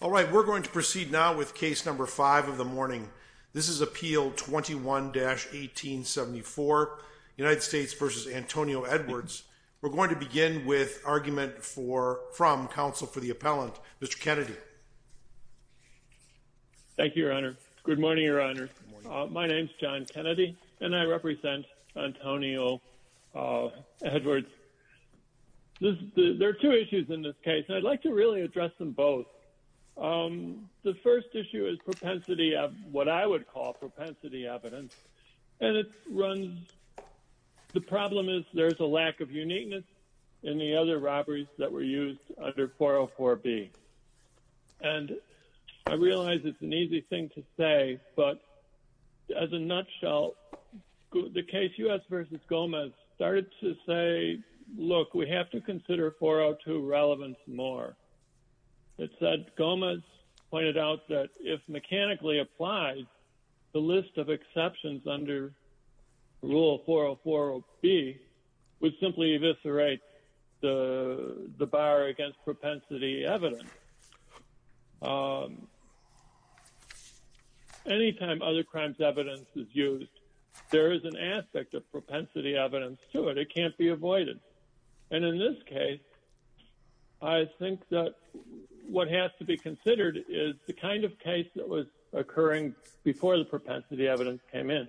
All right, we're going to proceed now with case number five of the morning. This is appeal 21-1874, United States v. Antonio Edwards. We're going to begin with argument from counsel for the appellant, Mr. Kennedy. Thank you, Your Honor. Good morning, Your Honor. My name's John Kennedy, and I represent Antonio Edwards. There are two issues in this case, and I'd like to really address them both. The first issue is propensity of what I would call propensity evidence, and it runs – the problem is there's a lack of uniqueness in the other robberies that were used under 404B. And I realize it's an easy thing to say, but as a nutshell, the case U.S. v. Gomez started to say, look, we have to consider 402 relevance more. It said Gomez pointed out that if mechanically applied, the list of exceptions under Rule 404B would simply eviscerate the bar against propensity evidence. Any time other crimes evidence is used, there is an aspect of propensity evidence to it. It can't be avoided. And in this case, I think that what has to be considered is the kind of case that was occurring before the propensity evidence came in,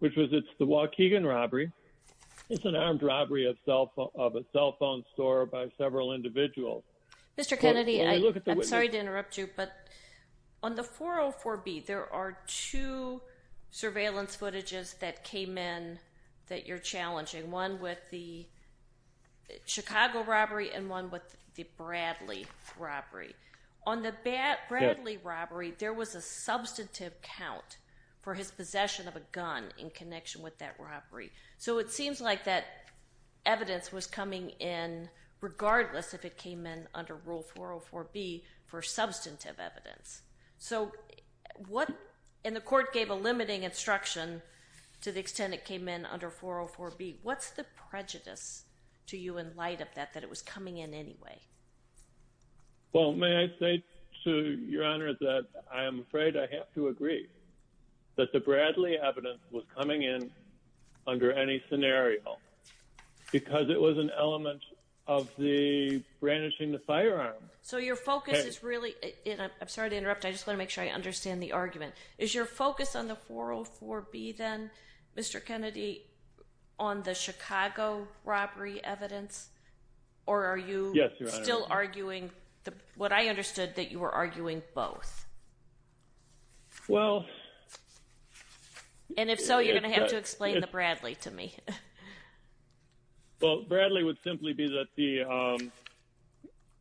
which was it's the Waukegan robbery. It's an armed robbery of a cell phone store by several individuals. Mr. Kennedy, I'm sorry to interrupt you, but on the 404B, there are two surveillance footages that came in that you're challenging, one with the Chicago robbery and one with the Bradley robbery. On the Bradley robbery, there was a substantive count for his possession of a gun in connection with that robbery. So it seems like that evidence was coming in regardless if it came in under Rule 404B for substantive evidence. And the court gave a limiting instruction to the extent it came in under 404B. What's the prejudice to you in light of that, that it was coming in anyway? Well, may I say to Your Honor that I'm afraid I have to agree that the Bradley evidence was coming in under any scenario because it was an element of the brandishing the firearm. I'm sorry to interrupt. I just want to make sure I understand the argument. Is your focus on the 404B then, Mr. Kennedy, on the Chicago robbery evidence? Or are you still arguing what I understood, that you were arguing both? And if so, you're going to have to explain the Bradley to me. Well, Bradley would simply be that the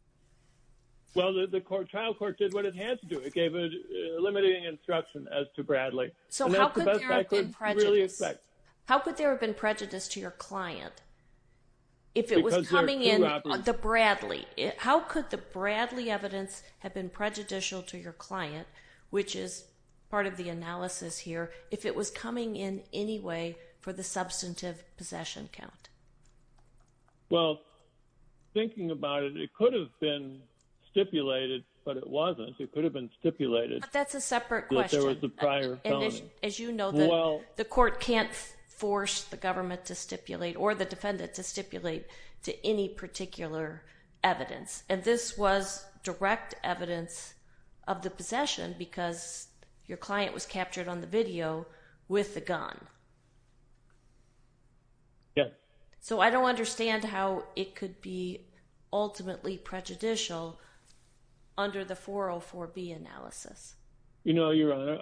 – well, the trial court did what it had to do. It gave a limiting instruction as to Bradley. So how could there have been prejudice to your client if it was coming in – the Bradley. How could the Bradley evidence have been prejudicial to your client, which is part of the analysis here, if it was coming in anyway for the substantive possession count? Well, thinking about it, it could have been stipulated, but it wasn't. It could have been stipulated. But that's a separate question. There was a prior felony. As you know, the court can't force the government to stipulate or the defendant to stipulate to any particular evidence. And this was direct evidence of the possession because your client was captured on the video with the gun. Yes. So I don't understand how it could be ultimately prejudicial under the 404B analysis. You know, Your Honor,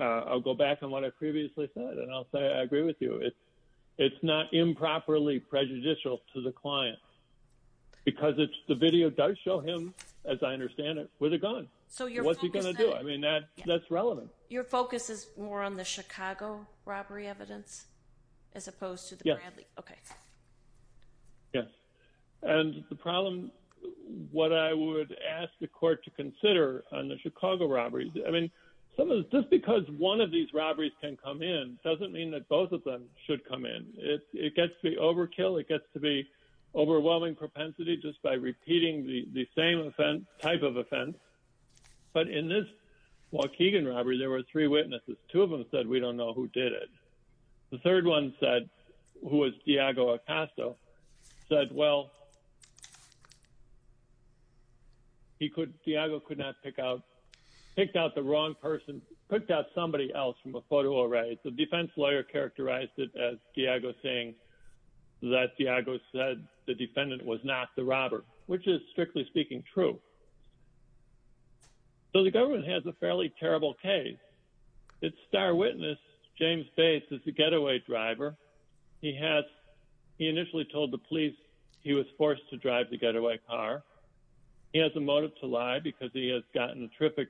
I'll go back on what I previously said, and I'll say I agree with you. It's not improperly prejudicial to the client because it's – the video does show him, as I understand it, with a gun. So your focus – What's he going to do? I mean, that's relevant. Your focus is more on the Chicago robbery evidence as opposed to the Bradley. Yes. Okay. Yes. And the problem – what I would ask the court to consider on the Chicago robbery – I mean, just because one of these robberies can come in doesn't mean that both of them should come in. It gets to be overkill. It gets to be overwhelming propensity just by repeating the same offense – type of offense. But in this Waukegan robbery, there were three witnesses. Two of them said, we don't know who did it. The third one said – who was Diago Acasto – said, well, he could – Diago could not pick out – picked out the wrong person, picked out somebody else from the photo array. The defense lawyer characterized it as Diago saying that Diago said the defendant was not the robber, which is, strictly speaking, true. So the government has a fairly terrible case. Its star witness, James Bates, is a getaway driver. He has – he initially told the police he was forced to drive the getaway car. He has a motive to lie because he has gotten a terrific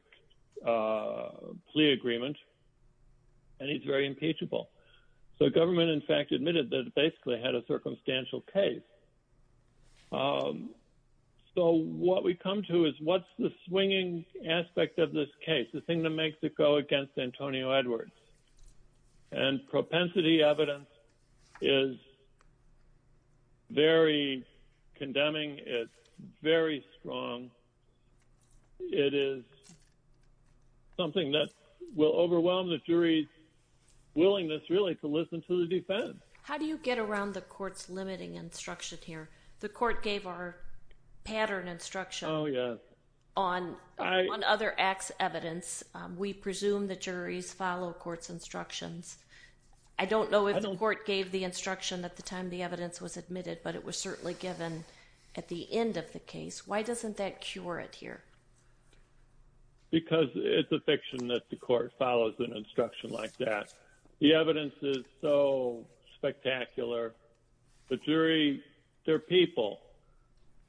plea agreement, and he's very impeachable. So the government, in fact, admitted that it basically had a circumstantial case. So what we come to is what's the swinging aspect of this case? The thing that makes it go against Antonio Edwards. And propensity evidence is very condemning. It's very strong. It is something that will overwhelm the jury's willingness, really, to listen to the defense. How do you get around the court's limiting instruction here? The court gave our pattern instruction on one other act's evidence. We presume the juries follow court's instructions. I don't know if the court gave the instruction at the time the evidence was admitted, but it was certainly given at the end of the case. Why doesn't that cure it here? Because it's a fiction that the court follows an instruction like that. The evidence is so spectacular. The jury, they're people.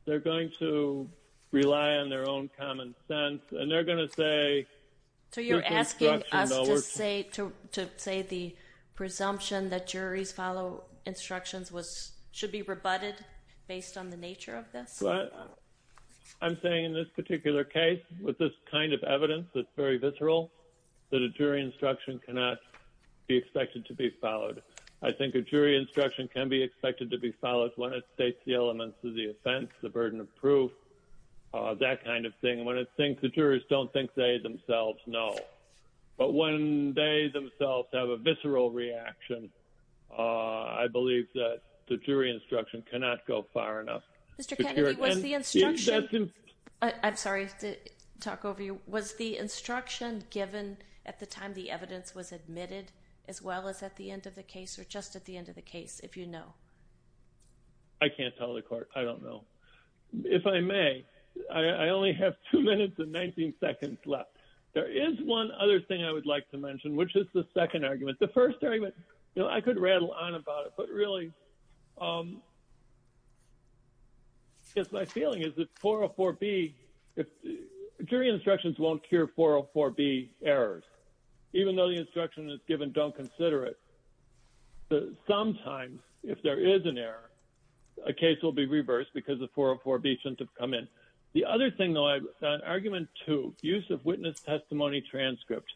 They're going to rely on their own common sense, and they're going to say the instruction doesn't work. So you're asking us to say the presumption that juries follow instructions should be rebutted based on the nature of this? I'm saying in this particular case, with this kind of evidence that's very visceral, that a jury instruction cannot be expected to be followed. I think a jury instruction can be expected to be followed when it states the elements of the offense, the burden of proof, that kind of thing. When it thinks the jurors don't think they themselves know. But when they themselves have a visceral reaction, I believe that the jury instruction cannot go far enough. Mr. Kennedy, was the instruction given at the time the evidence was admitted as well as at the end of the case or just at the end of the case, if you know? I can't tell the court. I don't know. If I may, I only have two minutes and 19 seconds left. There is one other thing I would like to mention, which is the second argument. The first argument, I could rattle on about it, but really, my feeling is that 404B, jury instructions won't cure 404B errors. Even though the instruction is given, don't consider it. Sometimes, if there is an error, a case will be reversed because the 404B shouldn't have come in. The other thing, though, argument two, use of witness testimony transcripts.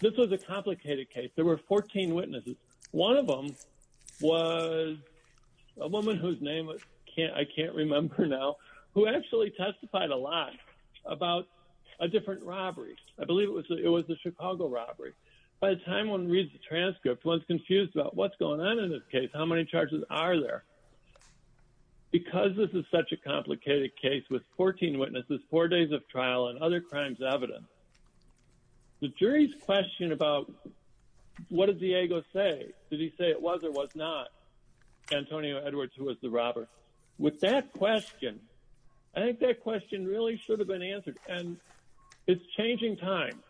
This was a complicated case. There were 14 witnesses. One of them was a woman whose name I can't remember now who actually testified a lot about a different robbery. I believe it was the Chicago robbery. By the time one reads the transcript, one is confused about what's going on in this case, how many charges are there. Because this is such a complicated case with 14 witnesses, four days of trial, and other crimes evident, the jury's question about what did Diego say? Did he say it was or was not Antonio Edwards who was the robber? With that question, I think that question really should have been answered, and it's changing time.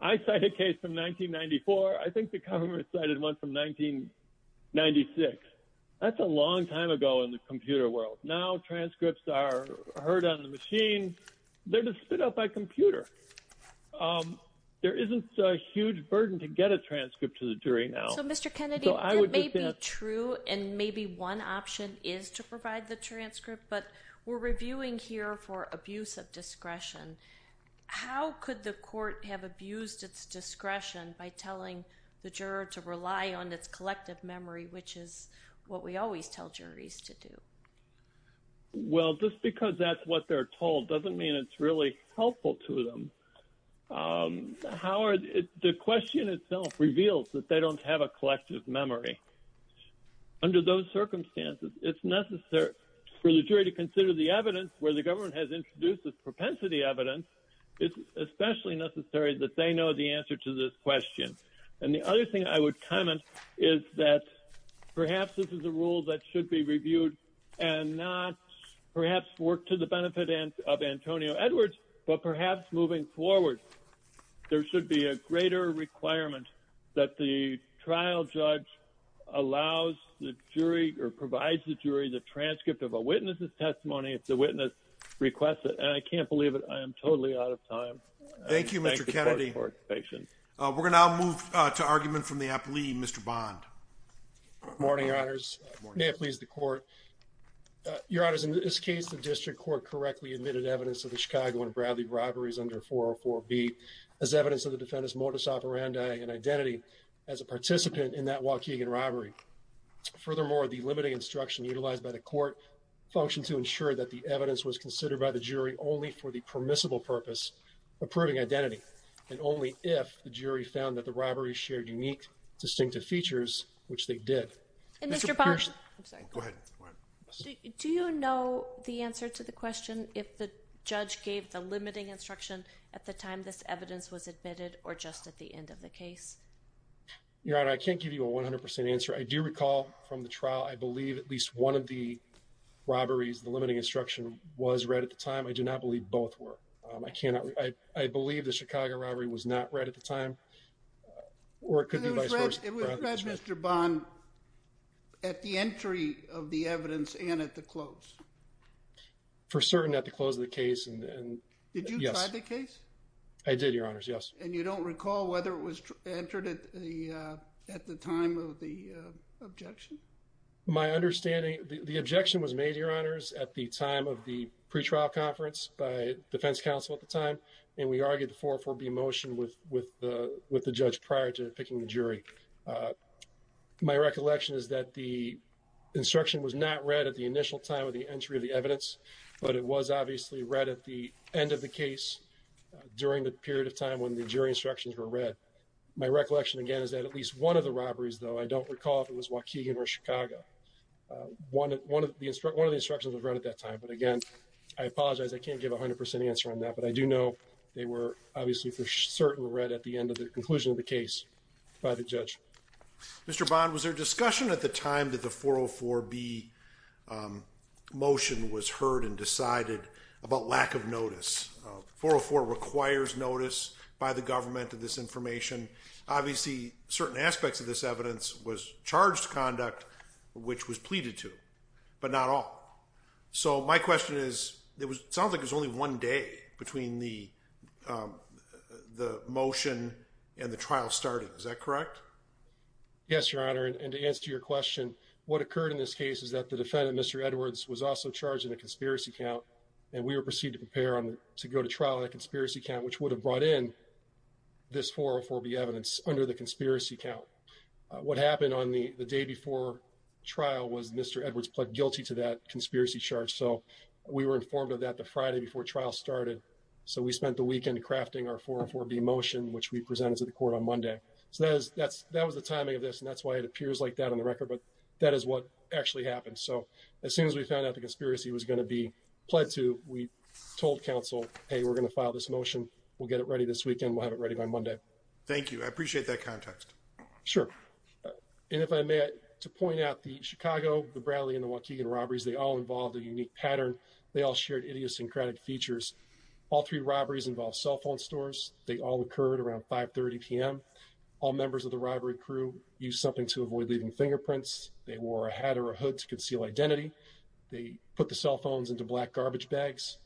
I cite a case from 1994. I think the government cited one from 1996. That's a long time ago in the computer world. Now transcripts are heard on the machine. They're just spit out by computer. There isn't a huge burden to get a transcript to the jury now. So, Mr. Kennedy, it may be true, and maybe one option is to provide the transcript, but we're reviewing here for abuse of discretion. How could the court have abused its discretion by telling the juror to rely on its collective memory, which is what we always tell juries to do? Well, just because that's what they're told doesn't mean it's really helpful to them. Howard, the question itself reveals that they don't have a collective memory. Under those circumstances, it's necessary for the jury to consider the evidence where the government has introduced this propensity evidence. It's especially necessary that they know the answer to this question. And the other thing I would comment is that perhaps this is a rule that should be reviewed and not perhaps work to the benefit of Antonio Edwards, but perhaps moving forward. There should be a greater requirement that the trial judge allows the jury or provides the jury the transcript of a witness's testimony if the witness requests it. And I can't believe it. I am totally out of time. Thank you, Mr. Kennedy. We're going to now move to argument from the apli, Mr. Bond. Good morning, Your Honors. May it please the Court. Your Honors, in this case, the district court correctly admitted evidence of the Chicago and Bradley robberies under 404B as evidence of the defendant's modus operandi and identity as a participant in that Waukegan robbery. Furthermore, the limiting instruction utilized by the court functioned to ensure that the evidence was considered by the jury only for the permissible purpose, approving identity, and only if the jury found that the robbery shared unique, distinctive features, which they did. Mr. Bond, do you know the answer to the question if the judge gave the limiting instruction at the time this evidence was admitted or just at the end of the case? Your Honor, I can't give you a 100% answer. I do recall from the trial, I believe at least one of the robberies, the limiting instruction, was read at the time. I do not believe both were. I believe the Chicago robbery was not read at the time, or it could be vice versa. It was read, Mr. Bond, at the entry of the evidence and at the close? For certain, at the close of the case. Did you decide the case? I did, Your Honors, yes. And you don't recall whether it was entered at the time of the objection? My understanding, the objection was made, Your Honors, at the time of the pretrial conference by defense counsel at the time, and we argued the 404B motion with the judge prior to picking the jury. My recollection is that the instruction was not read at the initial time of the entry of the evidence, but it was obviously read at the end of the case during the period of time when the jury instructions were read. My recollection, again, is that at least one of the robberies, though, I don't recall if it was Waukegan or Chicago. One of the instructions was read at that time, but again, I apologize, I can't give a 100% answer on that, but I do know they were obviously for certain read at the end of the conclusion of the case by the judge. Mr. Bond, was there discussion at the time that the 404B motion was heard and decided about lack of notice? 404 requires notice by the government of this information. Obviously, certain aspects of this evidence was charged conduct, which was pleaded to, but not all. So my question is, it sounds like it was only one day between the motion and the trial starting. Is that correct? Yes, Your Honor, and to answer your question, what occurred in this case is that the defendant, Mr. Edwards, was also charged in a conspiracy count. And we were proceeded to prepare to go to trial in a conspiracy count, which would have brought in this 404B evidence under the conspiracy count. What happened on the day before trial was Mr. Edwards pled guilty to that conspiracy charge. So we were informed of that the Friday before trial started. So we spent the weekend crafting our 404B motion, which we presented to the court on Monday. So that was the timing of this, and that's why it appears like that on the record. But that is what actually happened. So as soon as we found out the conspiracy was going to be pled to, we told counsel, hey, we're going to file this motion. We'll get it ready this weekend. We'll have it ready by Monday. Thank you. I appreciate that context. Sure. And if I may, to point out the Chicago, the Bradley, and the Waukegan robberies, they all involved a unique pattern. They all shared idiosyncratic features. All three robberies involved cell phone stores. They all occurred around 530 p.m. All members of the robbery crew used something to avoid leaving fingerprints. They wore a hat or a hood to conceal identity. They put the cell phones into black garbage bags.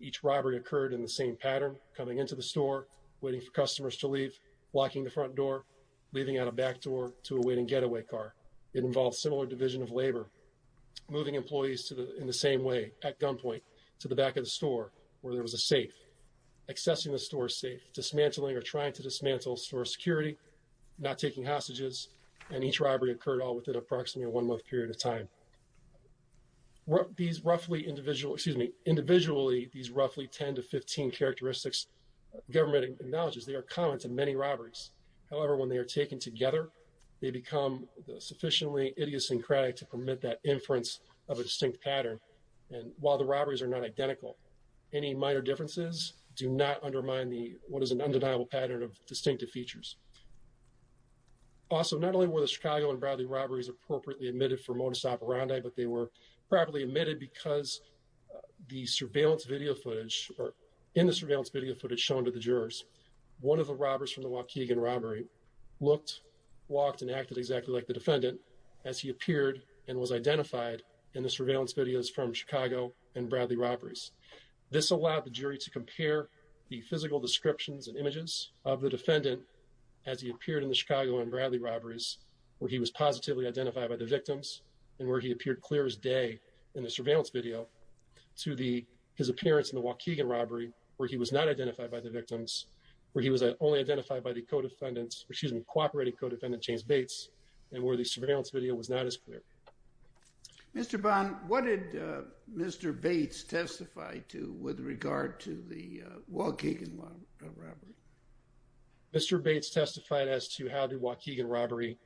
Each robbery occurred in the same pattern, coming into the store, waiting for customers to leave, locking the front door, leaving out a back door to a waiting getaway car. It involved similar division of labor. Moving employees in the same way, at gunpoint, to the back of the store where there was a safe. Accessing the store safe. Dismantling or trying to dismantle store security. Not taking hostages. And each robbery occurred all within approximately a one-month period of time. These roughly individual, excuse me, individually, these roughly 10 to 15 characteristics, government acknowledges, they are common to many robberies. However, when they are taken together, they become sufficiently idiosyncratic to permit that inference of a distinct pattern. And while the robberies are not identical, any minor differences do not undermine what is an undeniable pattern of distinctive features. Also, not only were the Chicago and Bradley robberies appropriately admitted for modus operandi, but they were probably admitted because the surveillance video footage, or in the surveillance video footage shown to the jurors, one of the robbers from the Waukegan robbery looked, walked, and acted exactly like the defendant as he appeared and was identified in the surveillance videos from Chicago and Bradley robberies. This allowed the jury to compare the physical descriptions and images of the defendant as he appeared in the Chicago and Bradley robberies, where he was positively identified by the victims, and where he appeared clear as day in the surveillance video to his appearance in the Waukegan robbery, where he was not identified by the victims, where he was only identified by the co-defendant, excuse me, cooperating co-defendant, James Bates, and where the surveillance video was not as clear. Mr. Bond, what did Mr. Bates testify to with regard to the Waukegan robbery? Mr. Bates testified as to how the Waukegan robbery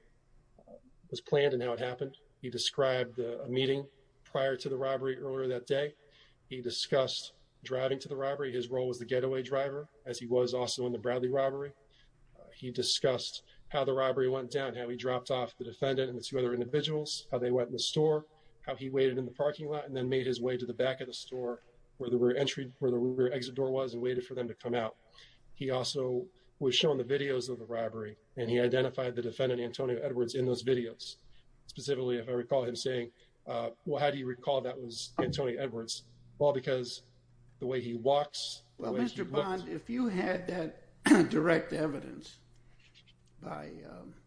was planned and how it happened. He described a meeting prior to the robbery earlier that day. He discussed driving to the robbery. His role was the getaway driver, as he was also in the Bradley robbery. He discussed how the robbery went down, how he dropped off the defendant and the two other individuals, how they went in the store, how he waited in the parking lot and then made his way to the back of the store where the rear exit door was and waited for them to come out. He also was shown the videos of the robbery, and he identified the defendant, Antonio Edwards, in those videos. Specifically, if I recall him saying, well, how do you recall that was Antonio Edwards? Well, because the way he walks, the way he looked. Well, Mr. Bond, if you had that direct evidence by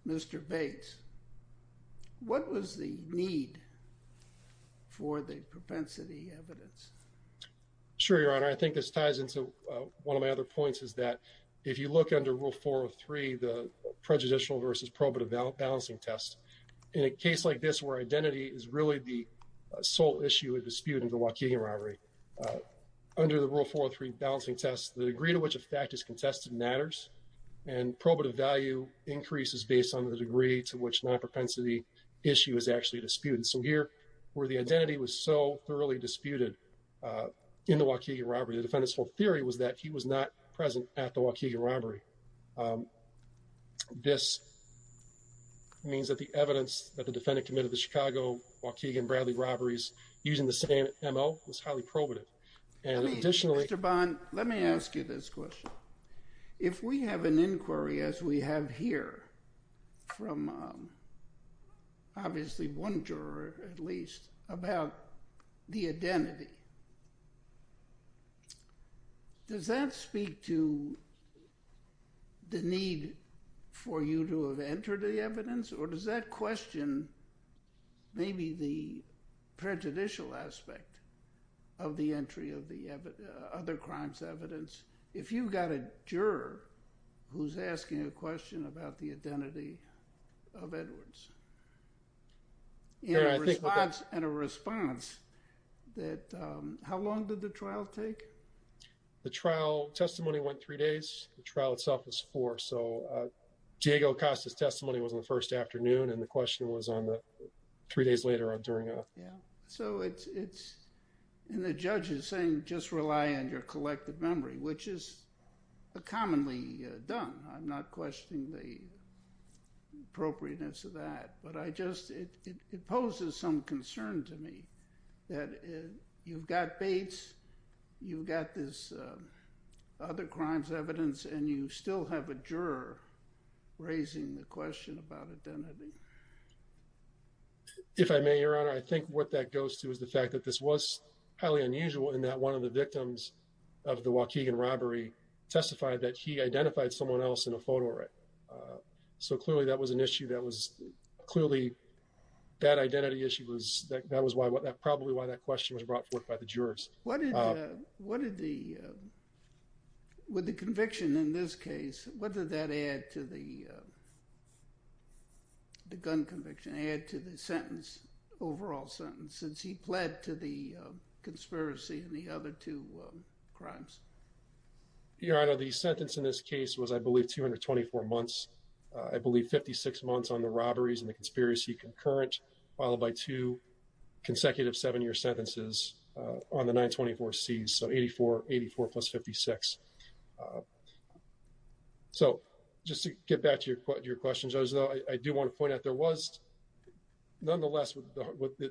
Mr. Bates, what was the need for the propensity evidence? Sure, your honor, I think this ties into one of my other points is that if you look under rule, 403, the prejudicial versus probative balancing test in a case like this, where identity is really the sole issue of disputing the Waukegan robbery under the rule, 403 balancing test. The degree to which a fact is contested matters and probative value increases based on the degree to which not propensity issue is actually disputed. So here, where the identity was so thoroughly disputed in the Waukegan robbery, the defendant's whole theory was that he was not present at the Waukegan robbery. This means that the evidence that the defendant committed the Chicago, Waukegan, Bradley robberies using the same M.O. was highly probative. Mr. Bond, let me ask you this question. If we have an inquiry as we have here from obviously one juror at least about the identity, does that speak to the need for you to have entered the evidence? Or does that question maybe the prejudicial aspect of the entry of the other crimes evidence? If you've got a juror who's asking a question about the identity of Edwards and a response, how long did the trial take? The trial testimony went three days. The trial itself was four. So Diego Acosta's testimony was on the first afternoon, and the question was on the three days later on during a… So it's…and the judge is saying just rely on your collective memory, which is commonly done. I'm not questioning the appropriateness of that. But I just…it poses some concern to me that you've got Bates, you've got this other crimes evidence, and you still have a juror raising the question about identity. If I may, Your Honor, I think what that goes to is the fact that this was highly unusual in that one of the victims of the Waukegan robbery testified that he identified someone else in a photorec. So clearly that was an issue that was…clearly that identity issue was…that was why…probably why that question was brought forth by the jurors. What did the…with the conviction in this case, what did that add to the gun conviction, add to the sentence, overall sentence, since he pled to the conspiracy and the other two crimes? Your Honor, the sentence in this case was, I believe, 224 months. I believe 56 months on the robberies and the conspiracy concurrent, followed by two consecutive seven-year sentences on the 924Cs, so 84 plus 56. So, just to get back to your questions, I do want to point out there was, nonetheless,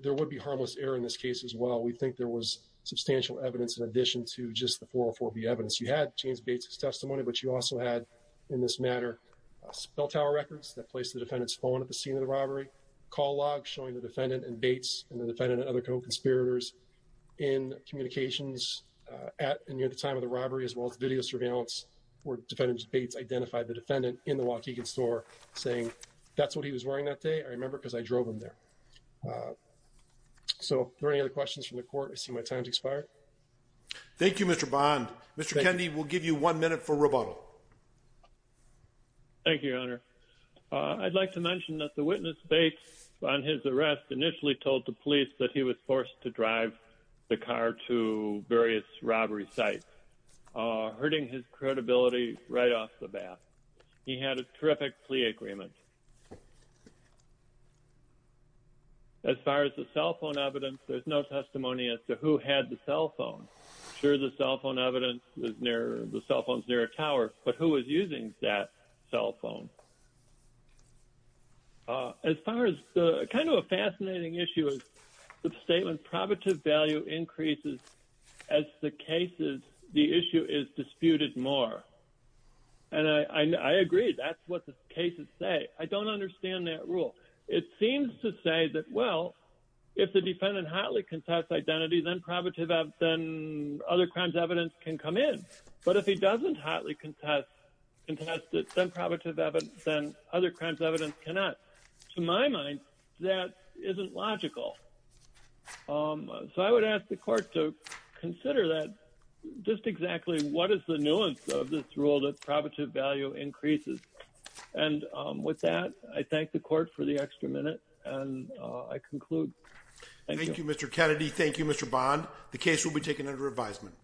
there would be harmless error in this case as well. We think there was substantial evidence in addition to just the 404B evidence. You had James Bates' testimony, but you also had, in this matter, spell tower records that placed the defendant's phone at the scene of the robbery, call logs showing the defendant and Bates and the defendant and other co-conspirators in communications at and near the time of the robbery, as well as video surveillance where Defendant Bates identified the defendant in the Waukegan store saying, that's what he was wearing that day, I remember, because I drove him there. So, are there any other questions from the court? I see my time has expired. Thank you, Mr. Bond. Mr. Kendi, we'll give you one minute for rebuttal. Thank you, Your Honor. I'd like to mention that the witness, Bates, on his arrest initially told the police that he was forced to drive the car to various robbery sites, hurting his credibility right off the bat. He had a terrific plea agreement. As far as the cell phone evidence, there's no testimony as to who had the cell phone. Sure, the cell phone evidence, the cell phone's near a tower, but who was using that cell phone? As far as, kind of a fascinating issue is the statement, probative value increases as the cases, the issue is disputed more. And I agree, that's what the cases say. I don't understand that rule. It seems to say that, well, if the defendant hotly contests identity, then other crimes evidence can come in. But if he doesn't hotly contest it, then other crimes evidence cannot. To my mind, that isn't logical. So I would ask the court to consider that, just exactly what is the nuance of this rule that probative value increases. And with that, I thank the court for the extra minute, and I conclude. Thank you, Mr. Kendi. Thank you, Mr. Bond. The case will be taken under advisement.